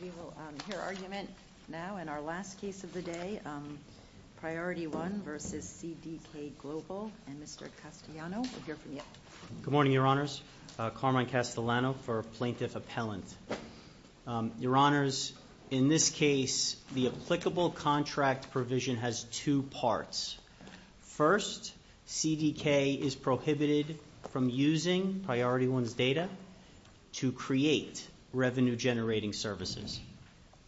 We will hear argument now in our last case of the day, Priority 1 v. CDK Global, and Mr. Castellano will hear from you. Good morning, Your Honors. Carmine Castellano for Plaintiff Appellant. Your Honors, in this case, the applicable contract provision has two parts. First, CDK is prohibited from using Priority 1's data to create revenue-generating services.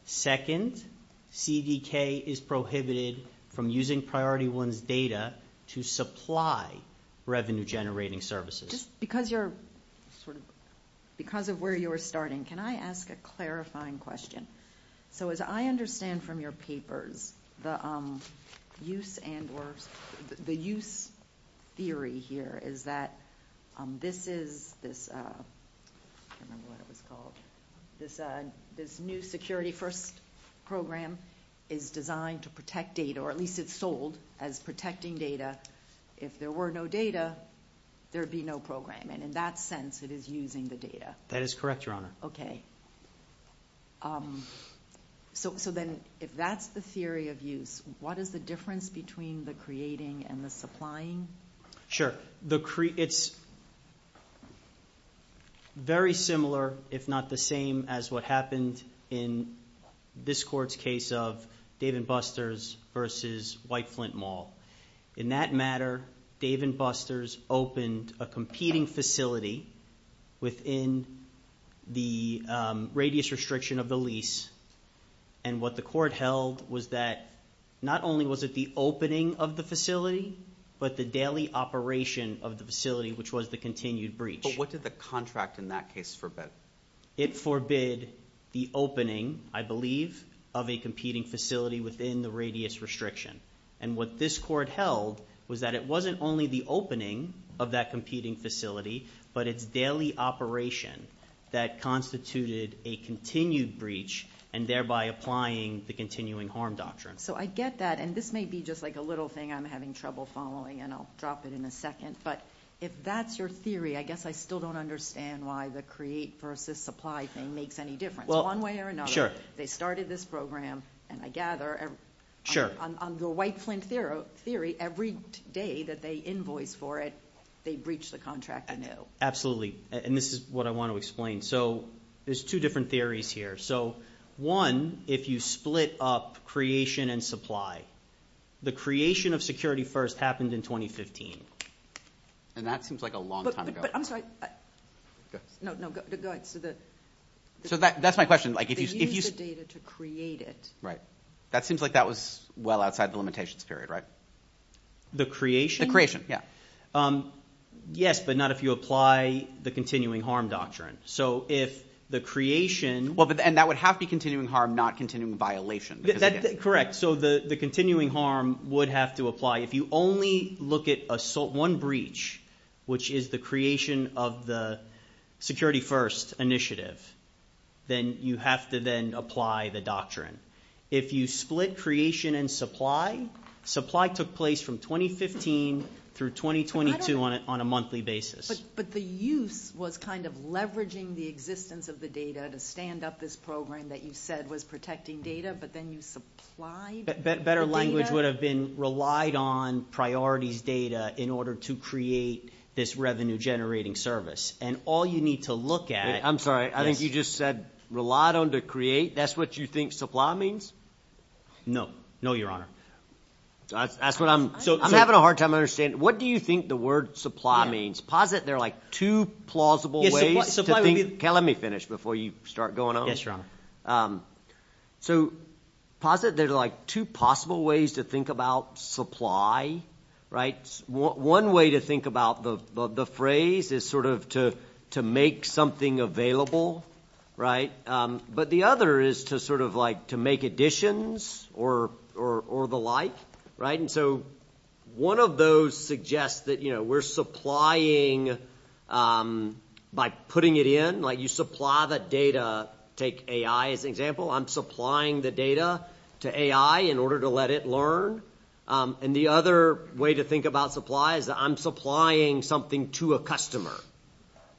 Second, CDK is prohibited from using Priority 1's data to supply revenue-generating services. Because of where you were starting, can I ask a clarifying question? As I understand from your papers, the use theory here is that this new security-first program is designed to protect data, or at least it's sold as protecting data. If there were no data, there would be no program, and in that sense, it is using the data. That is correct, Your Honor. If that's the theory of use, what is the difference between the creating and the supplying? Sure. It's very similar, if not the same, as what happened in this Court's case of Dave & Buster's v. White Flint Mall. In that matter, Dave & Buster's opened a competing facility within the radius restriction of the lease, and what the Court held was that not only was it the opening of the facility, but the daily operation of the facility, which was the continued breach. But what did the contract in that case forbid? It forbid the opening, I believe, of a competing facility within the radius restriction, and what this Court held was that it wasn't only the opening of that competing facility, but its daily operation that constituted a continued breach, and thereby applying the continuing harm doctrine. So I get that, and this may be just a little thing I'm having trouble following, and I'll drop it in a second, but if that's your theory, I guess I still don't understand why the create v. supply thing makes any difference. One way or another, they started this program, and I gather, on the White Flint theory, every day that they invoice for it, they breach the contract anew. Absolutely, and this is what I want to explain. There's two different theories here. One, if you split up creation and supply, the creation of security first happened in 2015, and that seems like a long time ago. But I'm sorry. No, go ahead. So that's my question. They used the data to create it. Right. That seems like that was well outside the limitations period, right? The creation? The creation, yeah. Yes, but not if you apply the continuing harm doctrine. So if the creation... And that would have to be continuing harm, not continuing violation. Correct. So the continuing harm would have to apply. If you only look at one breach, which is the creation of the security first initiative, then you have to then apply the doctrine. If you split creation and supply, supply took place from 2015 through 2022 on a monthly basis. But the use was kind of leveraging the existence of the data to stand up this program that you said was protecting data, but then you supplied the data? Better language would have been relied on priorities data in order to create this revenue generating service. And all you need to look at... I'm sorry. I think you just said relied on to create. That's what you think supply means? No. No, Your Honor. That's what I'm... I'm having a hard time understanding. What do you think the word supply means? Posit there are like two plausible ways to think... Okay, let me finish before you start going on. Yes, Your Honor. So posit there are like two possible ways to think about supply, right? One way to think about the phrase is sort of to make something available, right? But the other is to sort of like to make additions or the like, right? And so one of those suggests that we're supplying by putting it in. Like you supply the data. Take AI as an example. I'm supplying the data to AI in order to let it learn. And the other way to think about supply is that I'm supplying something to a customer,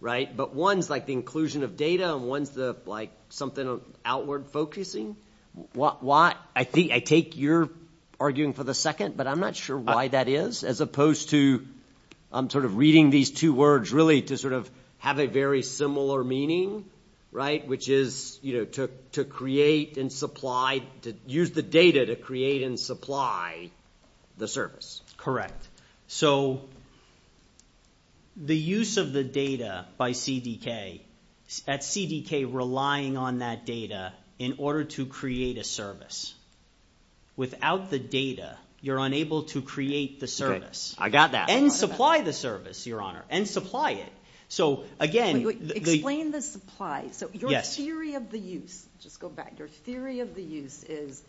right? But one's like the inclusion of data and one's the like something outward focusing. Why? I think I take your arguing for the second, but I'm not sure why that is as opposed to I'm sort of reading these two words really to sort of have a very similar meaning, right? Which is, you know, to create and supply to use the data to create and supply the service. Correct. So the use of the data by CDK at CDK relying on that data in order to create a service without the data, you're unable to create the service. I got that and supply the service, Your Honor, and supply it. So again, explain the supply. So yes, theory of the use. Just go back. Your theory of the use is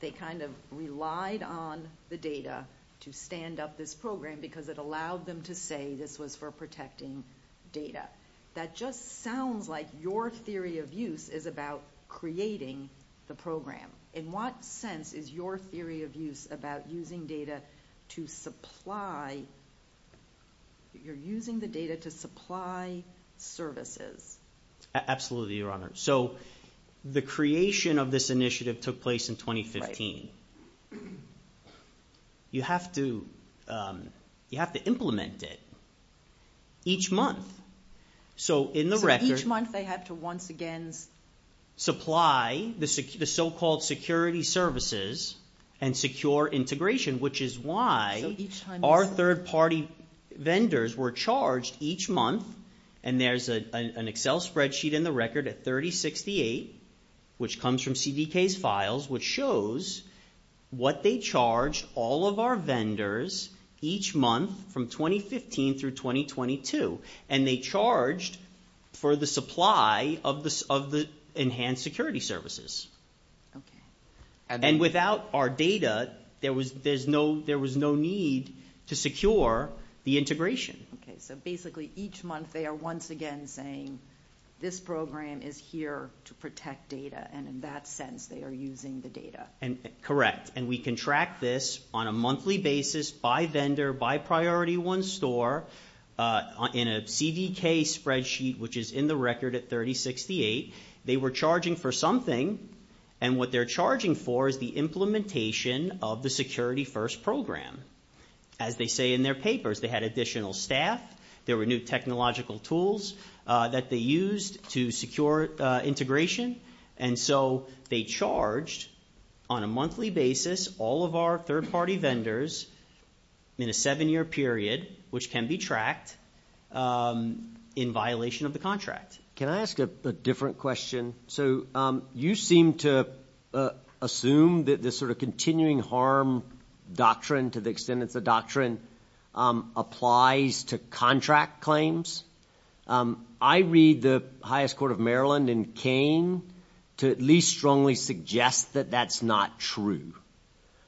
they kind of relied on the data to stand up this program because it allowed them to say this was for protecting data. That just sounds like your theory of use is about creating the program. In what sense is your theory of use about using data to supply? You're using the data to supply services. Absolutely, Your Honor. So the creation of this initiative took place in 2015. You have to implement it each month. So in the record. So each month they have to once again supply the so-called security services and secure integration, which is why our third-party vendors were charged each month. And there's an Excel spreadsheet in the record at 3068, which comes from CDK's files, which shows what they charged all of our vendors each month from 2015 through 2022. And they charged for the supply of the enhanced security services. And without our data, there was no need to secure the integration. Okay. So basically each month they are once again saying this program is here to protect data. And in that sense they are using the data. Correct. And we contract this on a monthly basis by vendor, by priority one store in a CDK spreadsheet, which is in the record at 3068. They were charging for something. And what they're charging for is the implementation of the security first program. As they say in their papers, they had additional staff. There were new technological tools that they used to secure integration. And so they charged on a monthly basis all of our third-party vendors in a seven-year period, which can be tracked in violation of the contract. Can I ask a different question? So you seem to assume that this sort of continuing harm doctrine, to the extent it's a doctrine, applies to contract claims. I read the highest court of Maryland in Kane to at least strongly suggest that that's not true.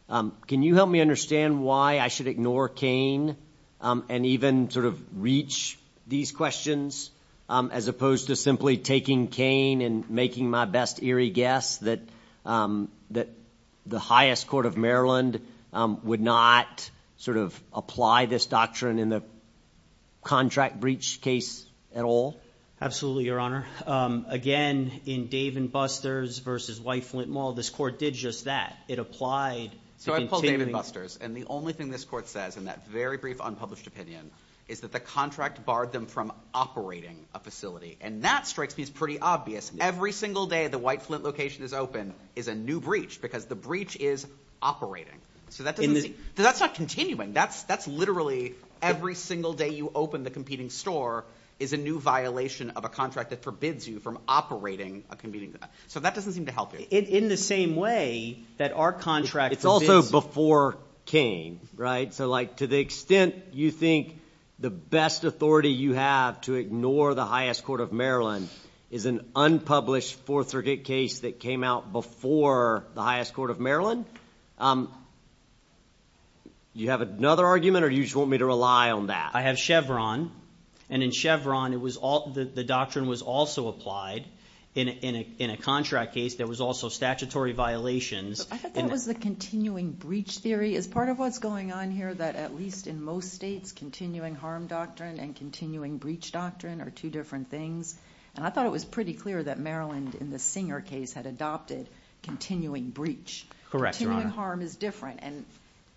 Can you help me understand why I should ignore Kane and even sort of reach these questions as opposed to simply taking Kane and making my best eerie guess that the highest court of Maryland would not sort of apply this doctrine in the contract breach case at all? Absolutely, Your Honor. Again, in Dave & Buster's v. White Flint Mall, this court did just that. It applied to continuing... So I called Dave & Buster's, and the only thing this court says in that very brief unpublished opinion is that the contract barred them from operating a facility. And that strikes me as pretty obvious. Every single day the White Flint location is open is a new breach, because the breach is operating. So that doesn't seem... It's not continuing. That's literally every single day you open the competing store is a new violation of a contract that forbids you from operating a competing... So that doesn't seem to help you. In the same way that our contract forbids... It's also before Kane, right? So to the extent you think the best authority you have to ignore the highest court of Maryland is an unpublished 4th Circuit case that came out before the highest court of Maryland, do you have another argument, or do you just want me to rely on that? I have Chevron. And in Chevron the doctrine was also applied in a contract case that was also statutory violations. I thought that was the continuing breach theory. Is part of what's going on here that at least in most states continuing harm doctrine and continuing breach doctrine are two different things. And I thought it was pretty clear that Maryland in the Singer case had adopted continuing breach. Continuing harm is different.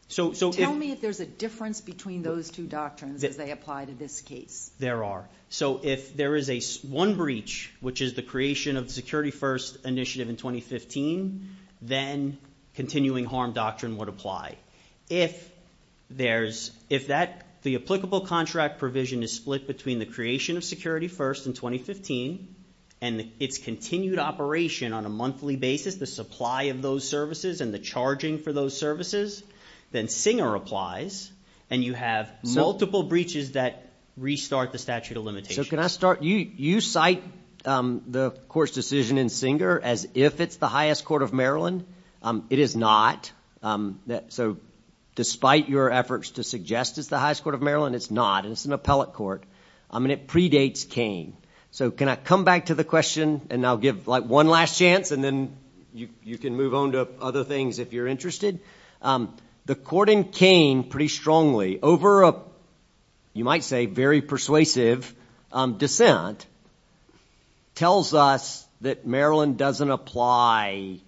Tell me if there's a difference between those two doctrines as they apply to this case. There are. If there is one breach, which is the creation of the Security First initiative in 2015, then continuing harm doctrine would apply. If there's... If the applicable contract provision is split between the creation of Security First in 2015 and its continued operation on a monthly basis, the supply of those services and the charging for those services, then Singer applies and you have multiple breaches that restart the statute of limitations. So can I start... You cite the court's decision in Singer as if it's the highest court of Maryland. It is not. So despite your efforts to suggest it's the highest court of Maryland, it's not. It's an appellate court. And it predates Kain. So can I come back to the question and I'll give one last chance and then you can move on to other things if you're interested. The court in Kain pretty strongly over a, you might say, very persuasive dissent tells us that Maryland doesn't apply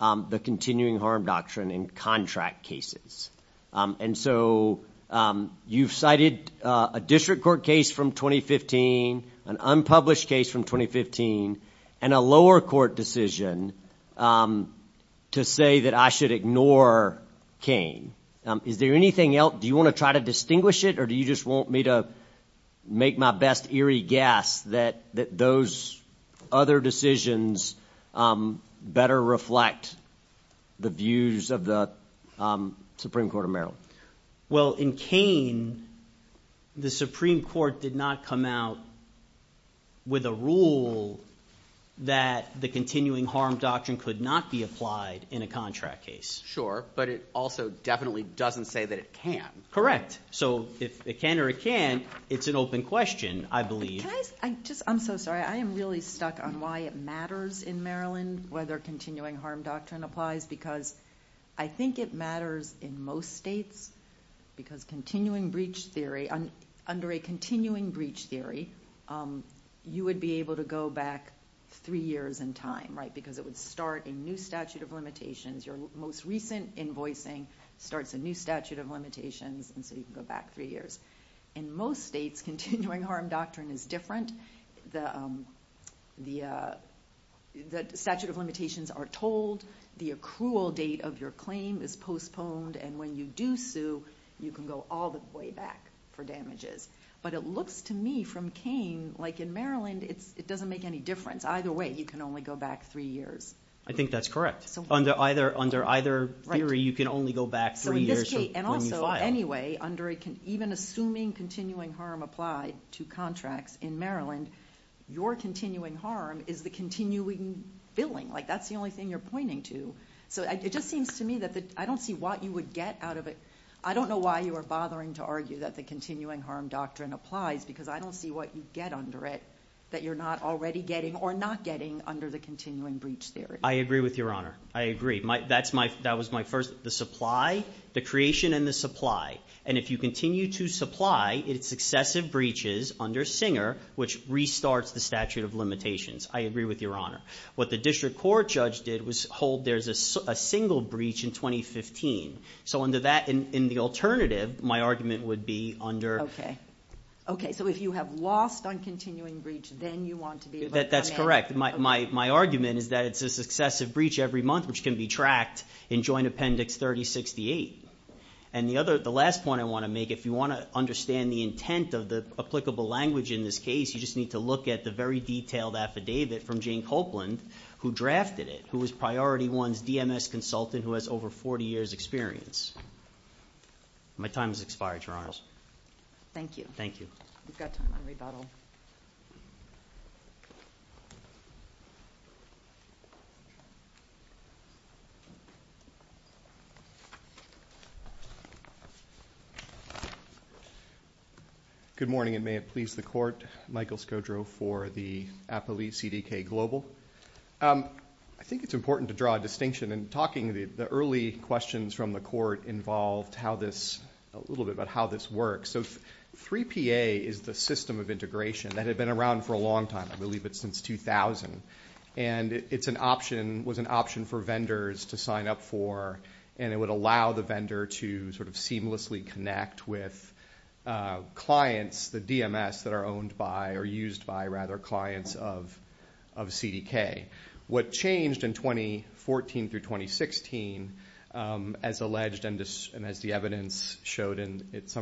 the continuing harm doctrine in contract cases. And so you've cited a district court case from 2015, an unpublished case from 2015, and a lower court decision to say that I should ignore Kain. Is there anything else? Do you want to try to distinguish it or do you just want me to make my best eerie guess that those other decisions better reflect the views of the Supreme Court of Maryland? Well, in Kain, the Supreme Court did not come out with a rule that the continuing harm doctrine could not be applied in a contract case. Sure, but it also definitely doesn't say that it can. Correct. So if it can or it can't, it's an open question, I believe. I'm so sorry. I am really stuck on why it matters in Maryland whether continuing harm doctrine applies because I think it matters in most states because continuing breach theory, under a continuing breach theory, you would be able to go back three years in time because it would start a new statute of limitations. Your most recent invoicing starts a new statute of limitations and so you can go back three years. In most states, continuing harm doctrine is different. The statute of limitations are told, the accrual date of your claim is postponed, and when you do sue, you can go all the way back for damages. But it looks to me from Kain, like in Maryland, it doesn't make any difference. Either way, you can only go back three years. I think that's correct. Under either theory, you can only go back three years from when you filed. Anyway, even assuming continuing harm applied to contracts in Maryland, your continuing harm is the continuing billing. That's the only thing you're I don't know why you are bothering to argue that the continuing harm doctrine applies because I don't see what you get under it that you're not already getting or not getting under the continuing breach theory. I agree with Your Honor. I agree. That was my first, the supply, the creation and the supply. And if you continue to supply, it's excessive breaches under Singer, which restarts the statute of limitations. I agree with Your Honor. What the district court judge did was hold there's a single breach in 2015. So under that, in the alternative, my argument would be under... Okay. Okay. So if you have lost on continuing breach, then you want to be able to... That's correct. My argument is that it's a successive breach every month, which can be tracked in Joint Appendix 3068. And the other, the last point I want to make, if you want to understand the intent of the applicable language in this case, you just need to look at the very detailed affidavit from Jane Copeland, who drafted it, who was Priority One's DMS consultant who has over 40 years experience. My time has expired, Your Honors. Thank you. Thank you. We've got time on rebuttal. Good morning, and may it please the Court. Michael Skodro for the Appellee CDK Global. I think it's important to draw a distinction. In talking, the early questions from the Court involved how this... A little bit about how this works. So 3PA is the system of integration. That had been around for a long time. I believe it's since 2000. And it's an option, was an option for vendors to sign up for, and it would allow the vendor to seamlessly connect with clients, the DMS that are owned by, or used by, rather, clients of CDK. What changed in 2014 through 2016, as alleged and as the evidence showed in its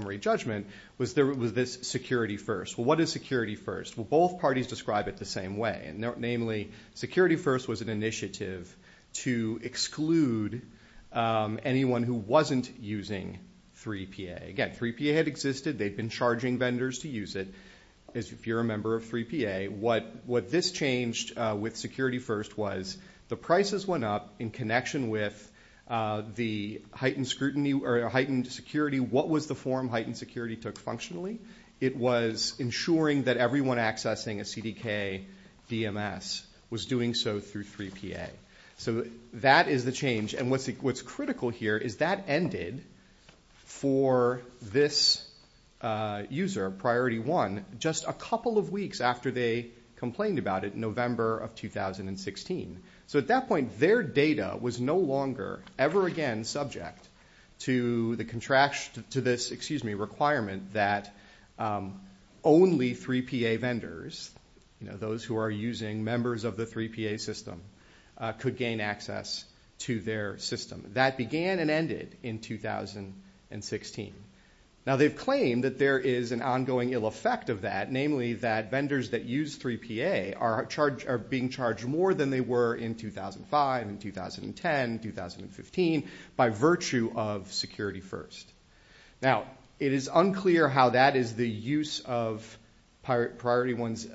Security First? Well, what is Security First? Well, both parties describe it the same way. Namely, Security First was an initiative to exclude anyone who wasn't using 3PA. Again, 3PA had existed. They'd been charging vendors to use it. If you're a member of 3PA, what this changed with Security First was the prices went up in connection with the heightened security. What was the form heightened security took functionally? It was ensuring that everyone accessing a CDK DMS was doing so through 3PA. So that is the change. And what's critical here is that ended for this user, Priority 1, just a couple of weeks after they complained about it in November of 2016. So at that point, their data was no longer ever again subject to this requirement that only 3PA vendors, those who are using members of the 3PA system, could gain access to their system. That began and ended in 2016. Now, they've claimed that there is an ongoing ill effect of that, namely that vendors that use 3PA are being charged more than they were in 2005 and 2010, 2015, by virtue of Security First. Now, it is unclear how that is the use of Priority 1's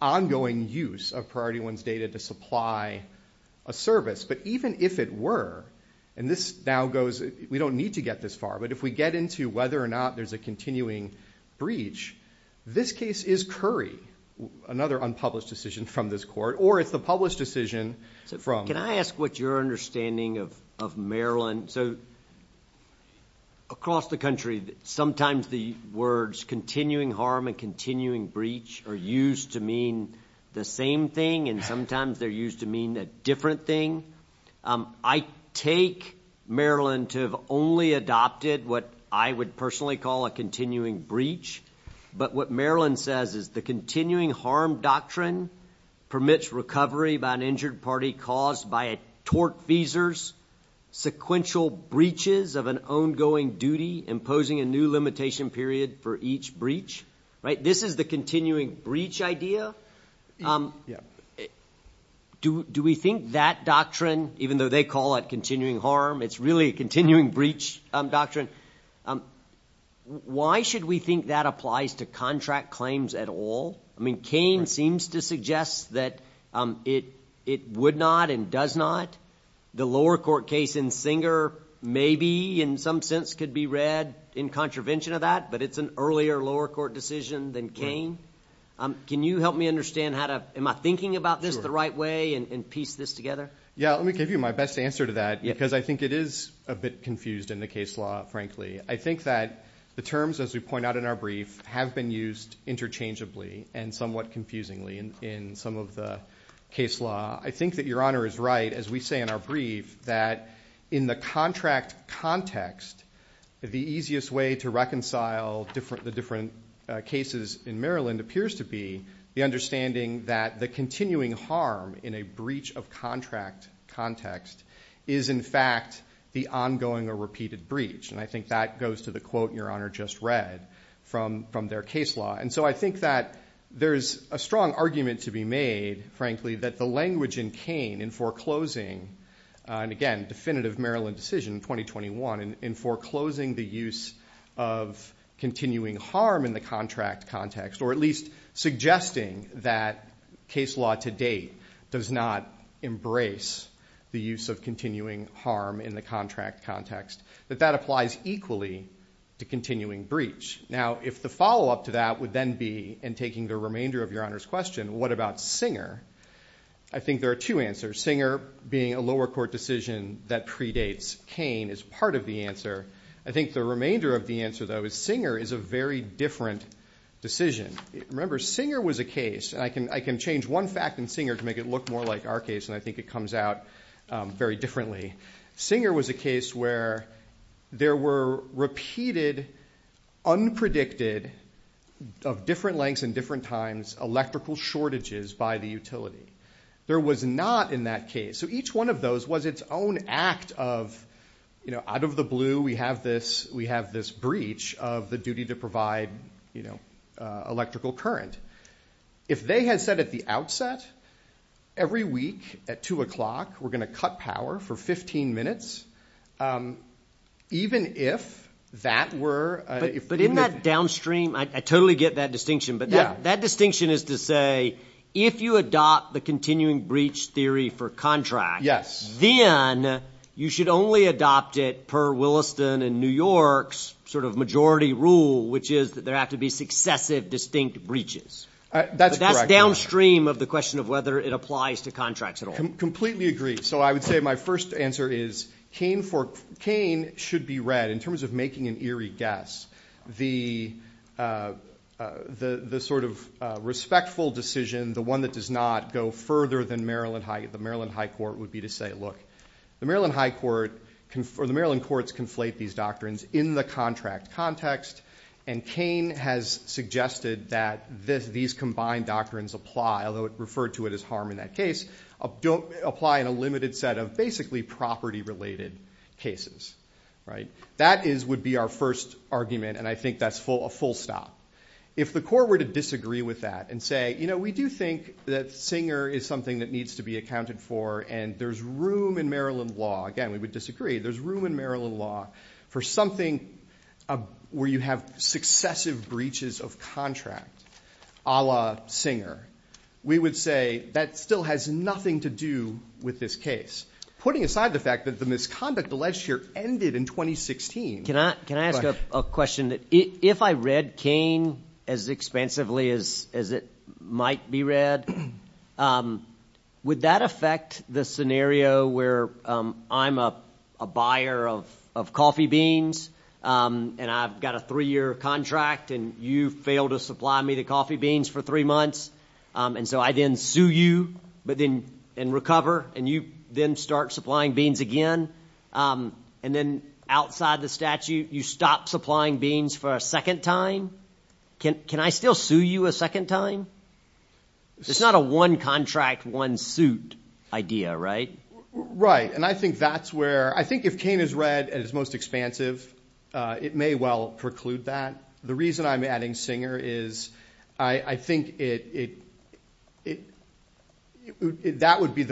ongoing use of Priority 1's data to supply a service. But even if it were, and this now goes, we don't need to get this far, but if we get into whether or not there's a continuing breach, this case is Curry, another unpublished decision from this court, or it's the published decision from... Can I ask what your understanding of Maryland... Across the country, sometimes the words continuing harm and continuing breach are used to mean the same thing, and sometimes they're used to mean a different thing. I take Maryland to have only adopted what I would personally call a continuing breach, but what Maryland says is the continuing harm doctrine permits recovery by an injured party caused by a tort feesers, sequential breaches of an ongoing duty, imposing a new limitation period for each breach. This is the continuing harm doctrine, even though they call it continuing harm, it's really a continuing breach doctrine. Why should we think that applies to contract claims at all? I mean, Cain seems to suggest that it would not and does not. The lower court case in Singer maybe in some sense could be read in contravention of that, but it's an earlier lower court decision than Cain. Can you help me understand how to... Am I thinking about this the right way and piece this together? Yeah, let me give you my best answer to that, because I think it is a bit confused in the case law, frankly. I think that the terms, as we point out in our brief, have been used interchangeably and somewhat confusingly in some of the case law. I think that Your Honor is right, as we say in our brief, that in the contract context, the easiest way to reconcile the different cases in Maryland appears to be the understanding that the continuing harm in a breach of contract context is, in fact, the ongoing or repeated breach. I think that goes to the quote Your Honor just read from their case law. I think that there's a strong argument to be made, frankly, that the language in Cain in foreclosing, and again, definitive Maryland decision in 2021, in foreclosing the use of continuing harm in the contract context, or at least suggesting that case law to date does not embrace the use of continuing harm in the contract context, that that applies equally to continuing breach. Now, if the follow-up to that would then be, and taking the remainder of Your Honor's question, what about Singer? I think there are two answers. Singer being a lower court decision that predates Cain is part of the answer. I think the remainder of the answer, though, is Singer is a very different decision. Remember, Singer was a case, and I can change one fact in Singer to make it look more like our case, and I think it comes out very differently. Singer was a case where there were repeated, unpredicted, of different lengths and different times, electrical shortages by the utility. There was not in that case, so each one of those was its own act of, out of the blue, we have this breach of the duty to provide electrical current. If they had said at the outset, every week at 2 o'clock, we're going to cut power for 15 minutes, even if that were... But in that downstream, I totally get that distinction, but that distinction is to say, if you adopt the continuing breach theory for contract, then you should only adopt it per Williston and New York's sort of majority rule, which is that there have to be successive distinct breaches. But that's downstream of the question of whether it applies to contracts at all. Completely agree. So I would say my first answer is, Kane should be read, in terms of making an eerie guess, the sort of respectful decision, the one that does not go further than the Maryland High Court, would be to say, look, the Maryland High Court, or the Maryland courts conflate these doctrines in the contract context, and Kane has suggested that these combined doctrines apply, although it referred to it as harm in that case, apply in a limited set of basically property-related cases. That would be our first argument, and I think that's a full stop. If the court were to disagree with that and say, we do think that Singer is something that needs to be accounted for, and there's room in Maryland law, again, we would disagree, there's room in Maryland law for something where you have successive breaches of contract, a la Singer, we would say that still has nothing to do with this case. Putting aside the fact that the misconduct alleged here ended in 2016. Can I ask a question? If I read Kane as expansively as it might be read, would that affect the scenario where I'm a buyer of coffee beans and I've got a three-year contract and you fail to supply me the coffee beans for three months, and so I then sue you and recover, and you then start supplying beans again, and then outside the statute you stop supplying beans for a second time? Can I still sue you a second time? It's not a one contract, one suit idea, right? Right. And I think that's where, I think if Kane is read at its most expansive, it may well preclude that. The reason I'm adding Singer is I think it, that would be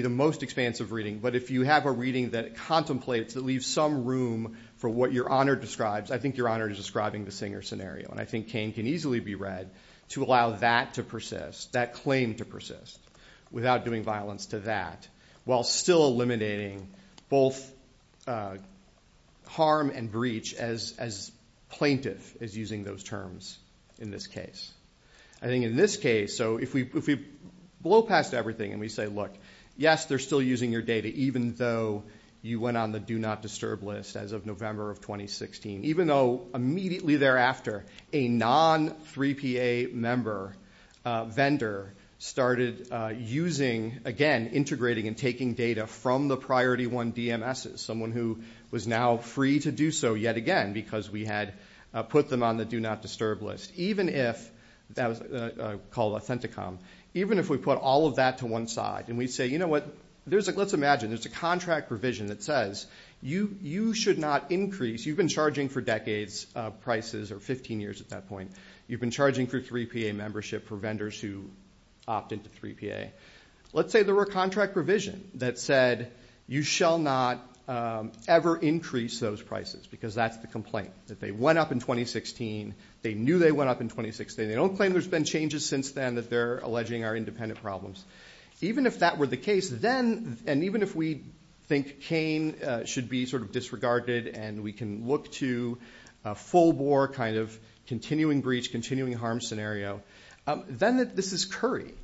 the most expansive reading, but if you have a reading that contemplates, that leaves some room for what your honor describes, I think your honor is describing the Singer scenario, and I think Kane can easily be read to allow that to persist, that claim to persist, without doing violence to that, while still eliminating both harm and breach as plaintiff is using those terms in this case. I think in this case, so if we blow past everything and we say, look, yes, they're still using your data, even though you went on the do not disturb list as of November of 2016, even though immediately thereafter a non-3PA member vendor started using, again, integrating and taking data from the priority one DMSs, someone who was now free to do so yet again, because we had put them on the do not disturb list, even if, that was called Authenticom, even if we put all of that to one side and we say, you know what, there's a, let's imagine, there's a contract provision that says, you should not increase, you've been charging for decades prices, or 15 years at that point, you've been charging for 3PA membership for vendors who opt into 3PA. Let's say there were a contract provision that said, you shall not ever increase those prices, because that's the complaint, that they went up in 2016, they knew they went up in 2016, they don't claim there's been changes since then that they're alleging are independent problems. Even if that were the case, then, and even if we think Cain should be sort of disregarded and we can look to a full bore kind of continuing breach, continuing harm scenario, then that this is Curry,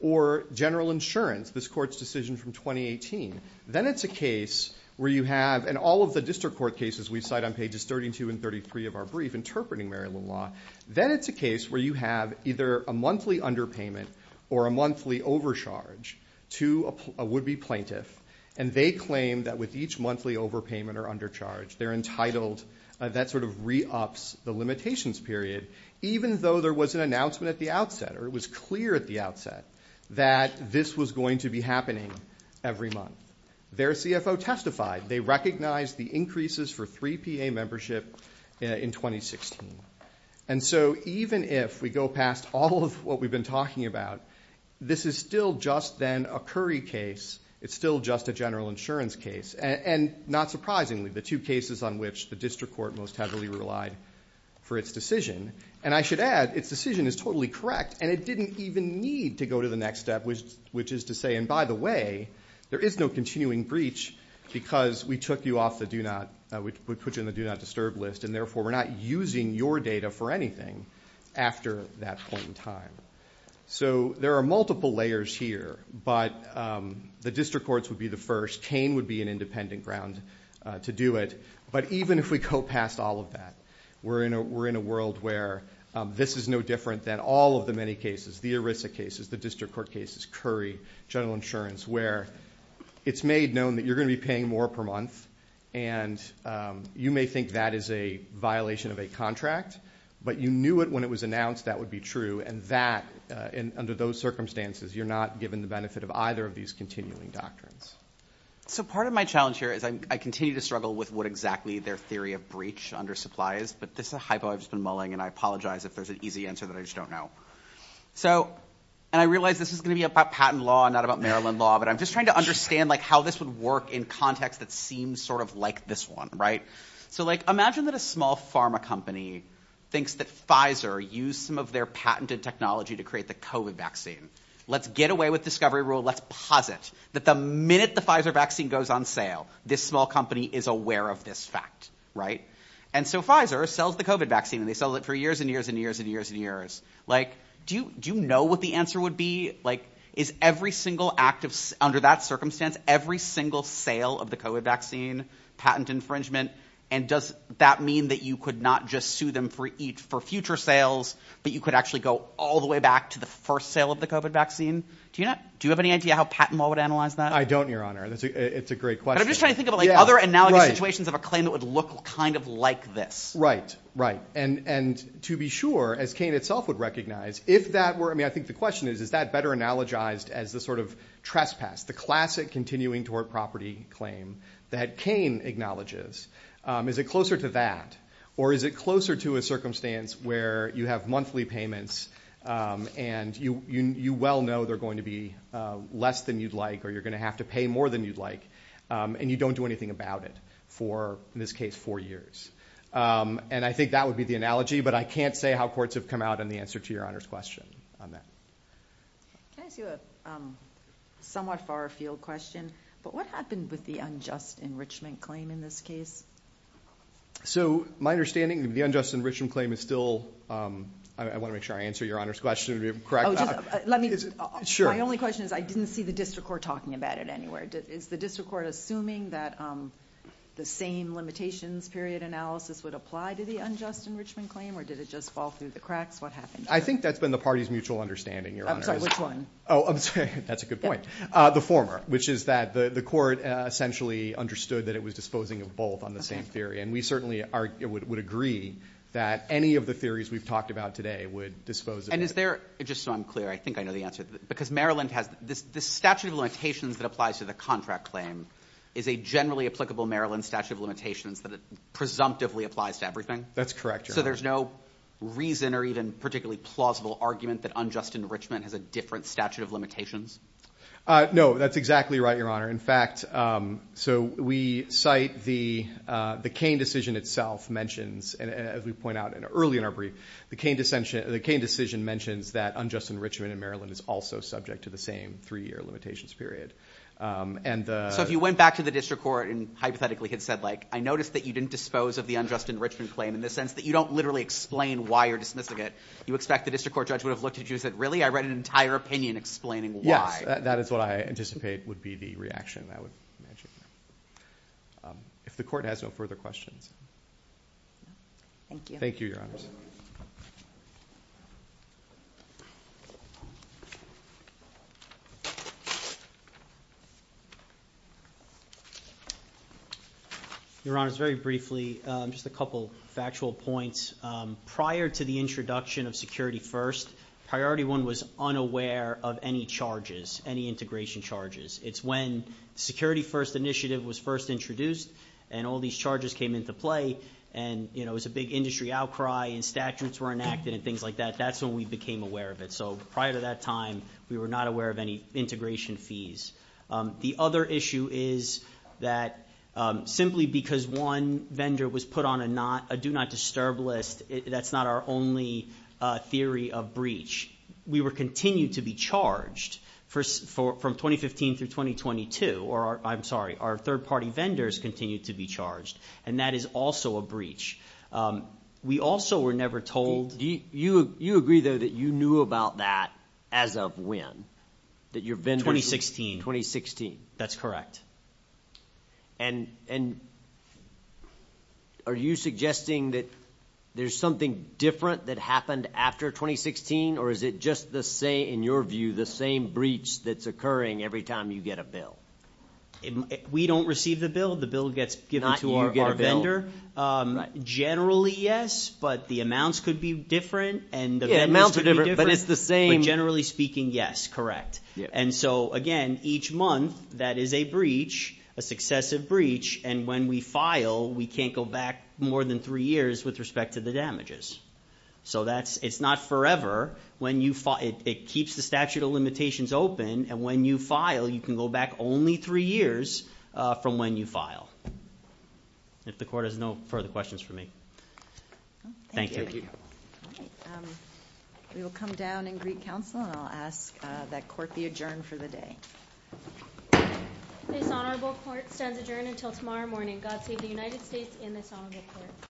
or general insurance, this court's decision from 2018, then it's a case where you have, and all of the district court cases we cite on pages 32 and 33 of our brief interpreting Maryland law, then it's a case where you have either a monthly underpayment or a monthly overcharge to a would-be plaintiff, and they claim that with each monthly overpayment or undercharge, they're entitled, that sort of re-ups the limitations period, even though there was an announcement at the outset, or it was clear at the outset, that this was going to be happening every month. Their CFO testified, they recognized the increases for 3PA membership in 2016. And so even if we go past all of what we've been talking about, this is still just then a Curry case, it's still just a general insurance case, and not surprisingly, the two cases on which the district court most heavily relied for its decision, and I should add, its decision is totally correct, and it didn't even need to go to the next step, which is to say, and by the way, there is no continuing breach because we took you off the do not, we put you on the do not disturb list, and therefore we're not using your data for anything after that point in time. So there are multiple layers here, but the district courts would be the first, Kane would be an independent ground to do it, but even if we go past all of that, we're in a world where this is no different than all of the many cases, the ERISA cases, the district court cases, Curry, general insurance, where it's made known that you're going to be paying more per month, and you may think that is a violation of a contract, but you knew it when it was announced that would be true, and that, under those circumstances, you're not given the benefit of either of these continuing doctrines. So part of my challenge here is I continue to struggle with what exactly their theory of breach under supply is, but this is a hypo I've just been mulling, and I apologize if there's an easy answer that I just don't know. So, and I realize this is going to be about patent law, not about Maryland law, but I'm just trying to understand how this would work in context that seems sort of like this one, right? So imagine that a small pharma company thinks that Pfizer used some of their patented technology to create the COVID vaccine. Let's get away with discovery rule. Let's posit that the minute the Pfizer vaccine goes on sale, this small company is aware of this fact, right? And so Pfizer sells the COVID vaccine, and they sell it for years and years and years and years and years. Like, do you know what the answer would be? Like, is every single active, under that circumstance, every single sale of the COVID vaccine patent infringement? And does that mean that you could not just sue them for future sales, but you could actually go all the way back to the first sale of the COVID vaccine? Do you have any idea how patent law would analyze that? I don't, Your Honor. It's a great question. But I'm just trying to think of other analogous situations of a claim that would look kind of like this. Right, right. And to be sure, as Cain itself would recognize, if that were, I mean, I think the question is, is that better analogized as the sort of trespass, the classic continuing toward property claim that Cain acknowledges? Is it closer to that? Or is it closer to a circumstance where you have monthly payments, and you well know they're going to be less than you'd like, or you're going to have to pay more than you'd like, and you don't do anything about it for, in this case, four years? And I think that would be the analogy, but I can't say how courts have come out on the answer to Your Honor's question on that. Can I ask you a somewhat far afield question? But what happened with the unjust enrichment claim in this case? So my understanding, the unjust enrichment claim is still, I want to make sure I answer Your Honor's question to be correct. Let me, my only question is, I didn't see the district court talking about it anywhere. Is the district court assuming that the same limitations period analysis would apply to the unjust enrichment claim, or did it just fall through the cracks? What happened? I think that's been the parties' mutual understanding, Your Honor. I'm sorry, which one? Oh, that's a good point. The former, which is that the court essentially understood that it was disposing of both on the same theory, and we certainly would agree that any of the theories we've talked about today would dispose of it. And is there, just so I'm clear, I think I know the answer, because Maryland has, the statute of limitations that applies to the contract claim is a generally applicable Maryland statute of limitations that it presumptively applies to everything? That's correct, Your Honor. So there's no reason or even particularly plausible argument that unjust enrichment has a different statute of limitations? No, that's exactly right, Your Honor. In fact, so we cite the Cane decision mentions that unjust enrichment in Maryland is also subject to the same three-year limitations period. So if you went back to the district court and hypothetically had said, like, I noticed that you didn't dispose of the unjust enrichment claim in the sense that you don't literally explain why you're dismissing it, you expect the district court judge would have looked at you and said, really? I read an entire opinion explaining why. Yes, that is what I anticipate would be the reaction I would imagine. If the court has no further questions. Thank you. Thank you, Your Honors. Your Honors, very briefly, just a couple factual points. Prior to the introduction of Security First, Priority One was unaware of any charges, any integration charges. It's when Security First initiative was first introduced and all these charges came into play and it was a big industry outcry and statutes were enacted and things like that. That's when we became aware of it. So prior to that time, we were not aware of any integration fees. The other issue is that simply because one vendor was put on a Do Not Disturb list, that's not our only theory of breach. We were continued to be charged from 2015 through 2022, or I'm sorry, our third party vendors continued to be charged. And that is also a breach. We also were never told. You agree, though, that you knew about that as of when? 2016. That's correct. And are you suggesting that there's something different that happened after 2016, or is it just the same, in your view, the same breach that's occurring every time you get a bill? We don't receive the bill. The bill gets given to our vendor. Not you get a bill. Generally, yes, but the amounts could be different. Yeah, amounts are different, but it's the same. Generally speaking, yes, correct. And so again, each month, that is a breach, a successive breach, and when we file, we can't go back more than three years with respect to the damages. So it's not forever. It keeps the statute of limitations open, and when you file, you can go back only three years from when you file. If the court has no further questions for me. Thank you. We will come down in Greek Council, and I'll ask that court be adjourned for the day. This honorable court stands adjourned until tomorrow morning. God save the United States and this honorable court.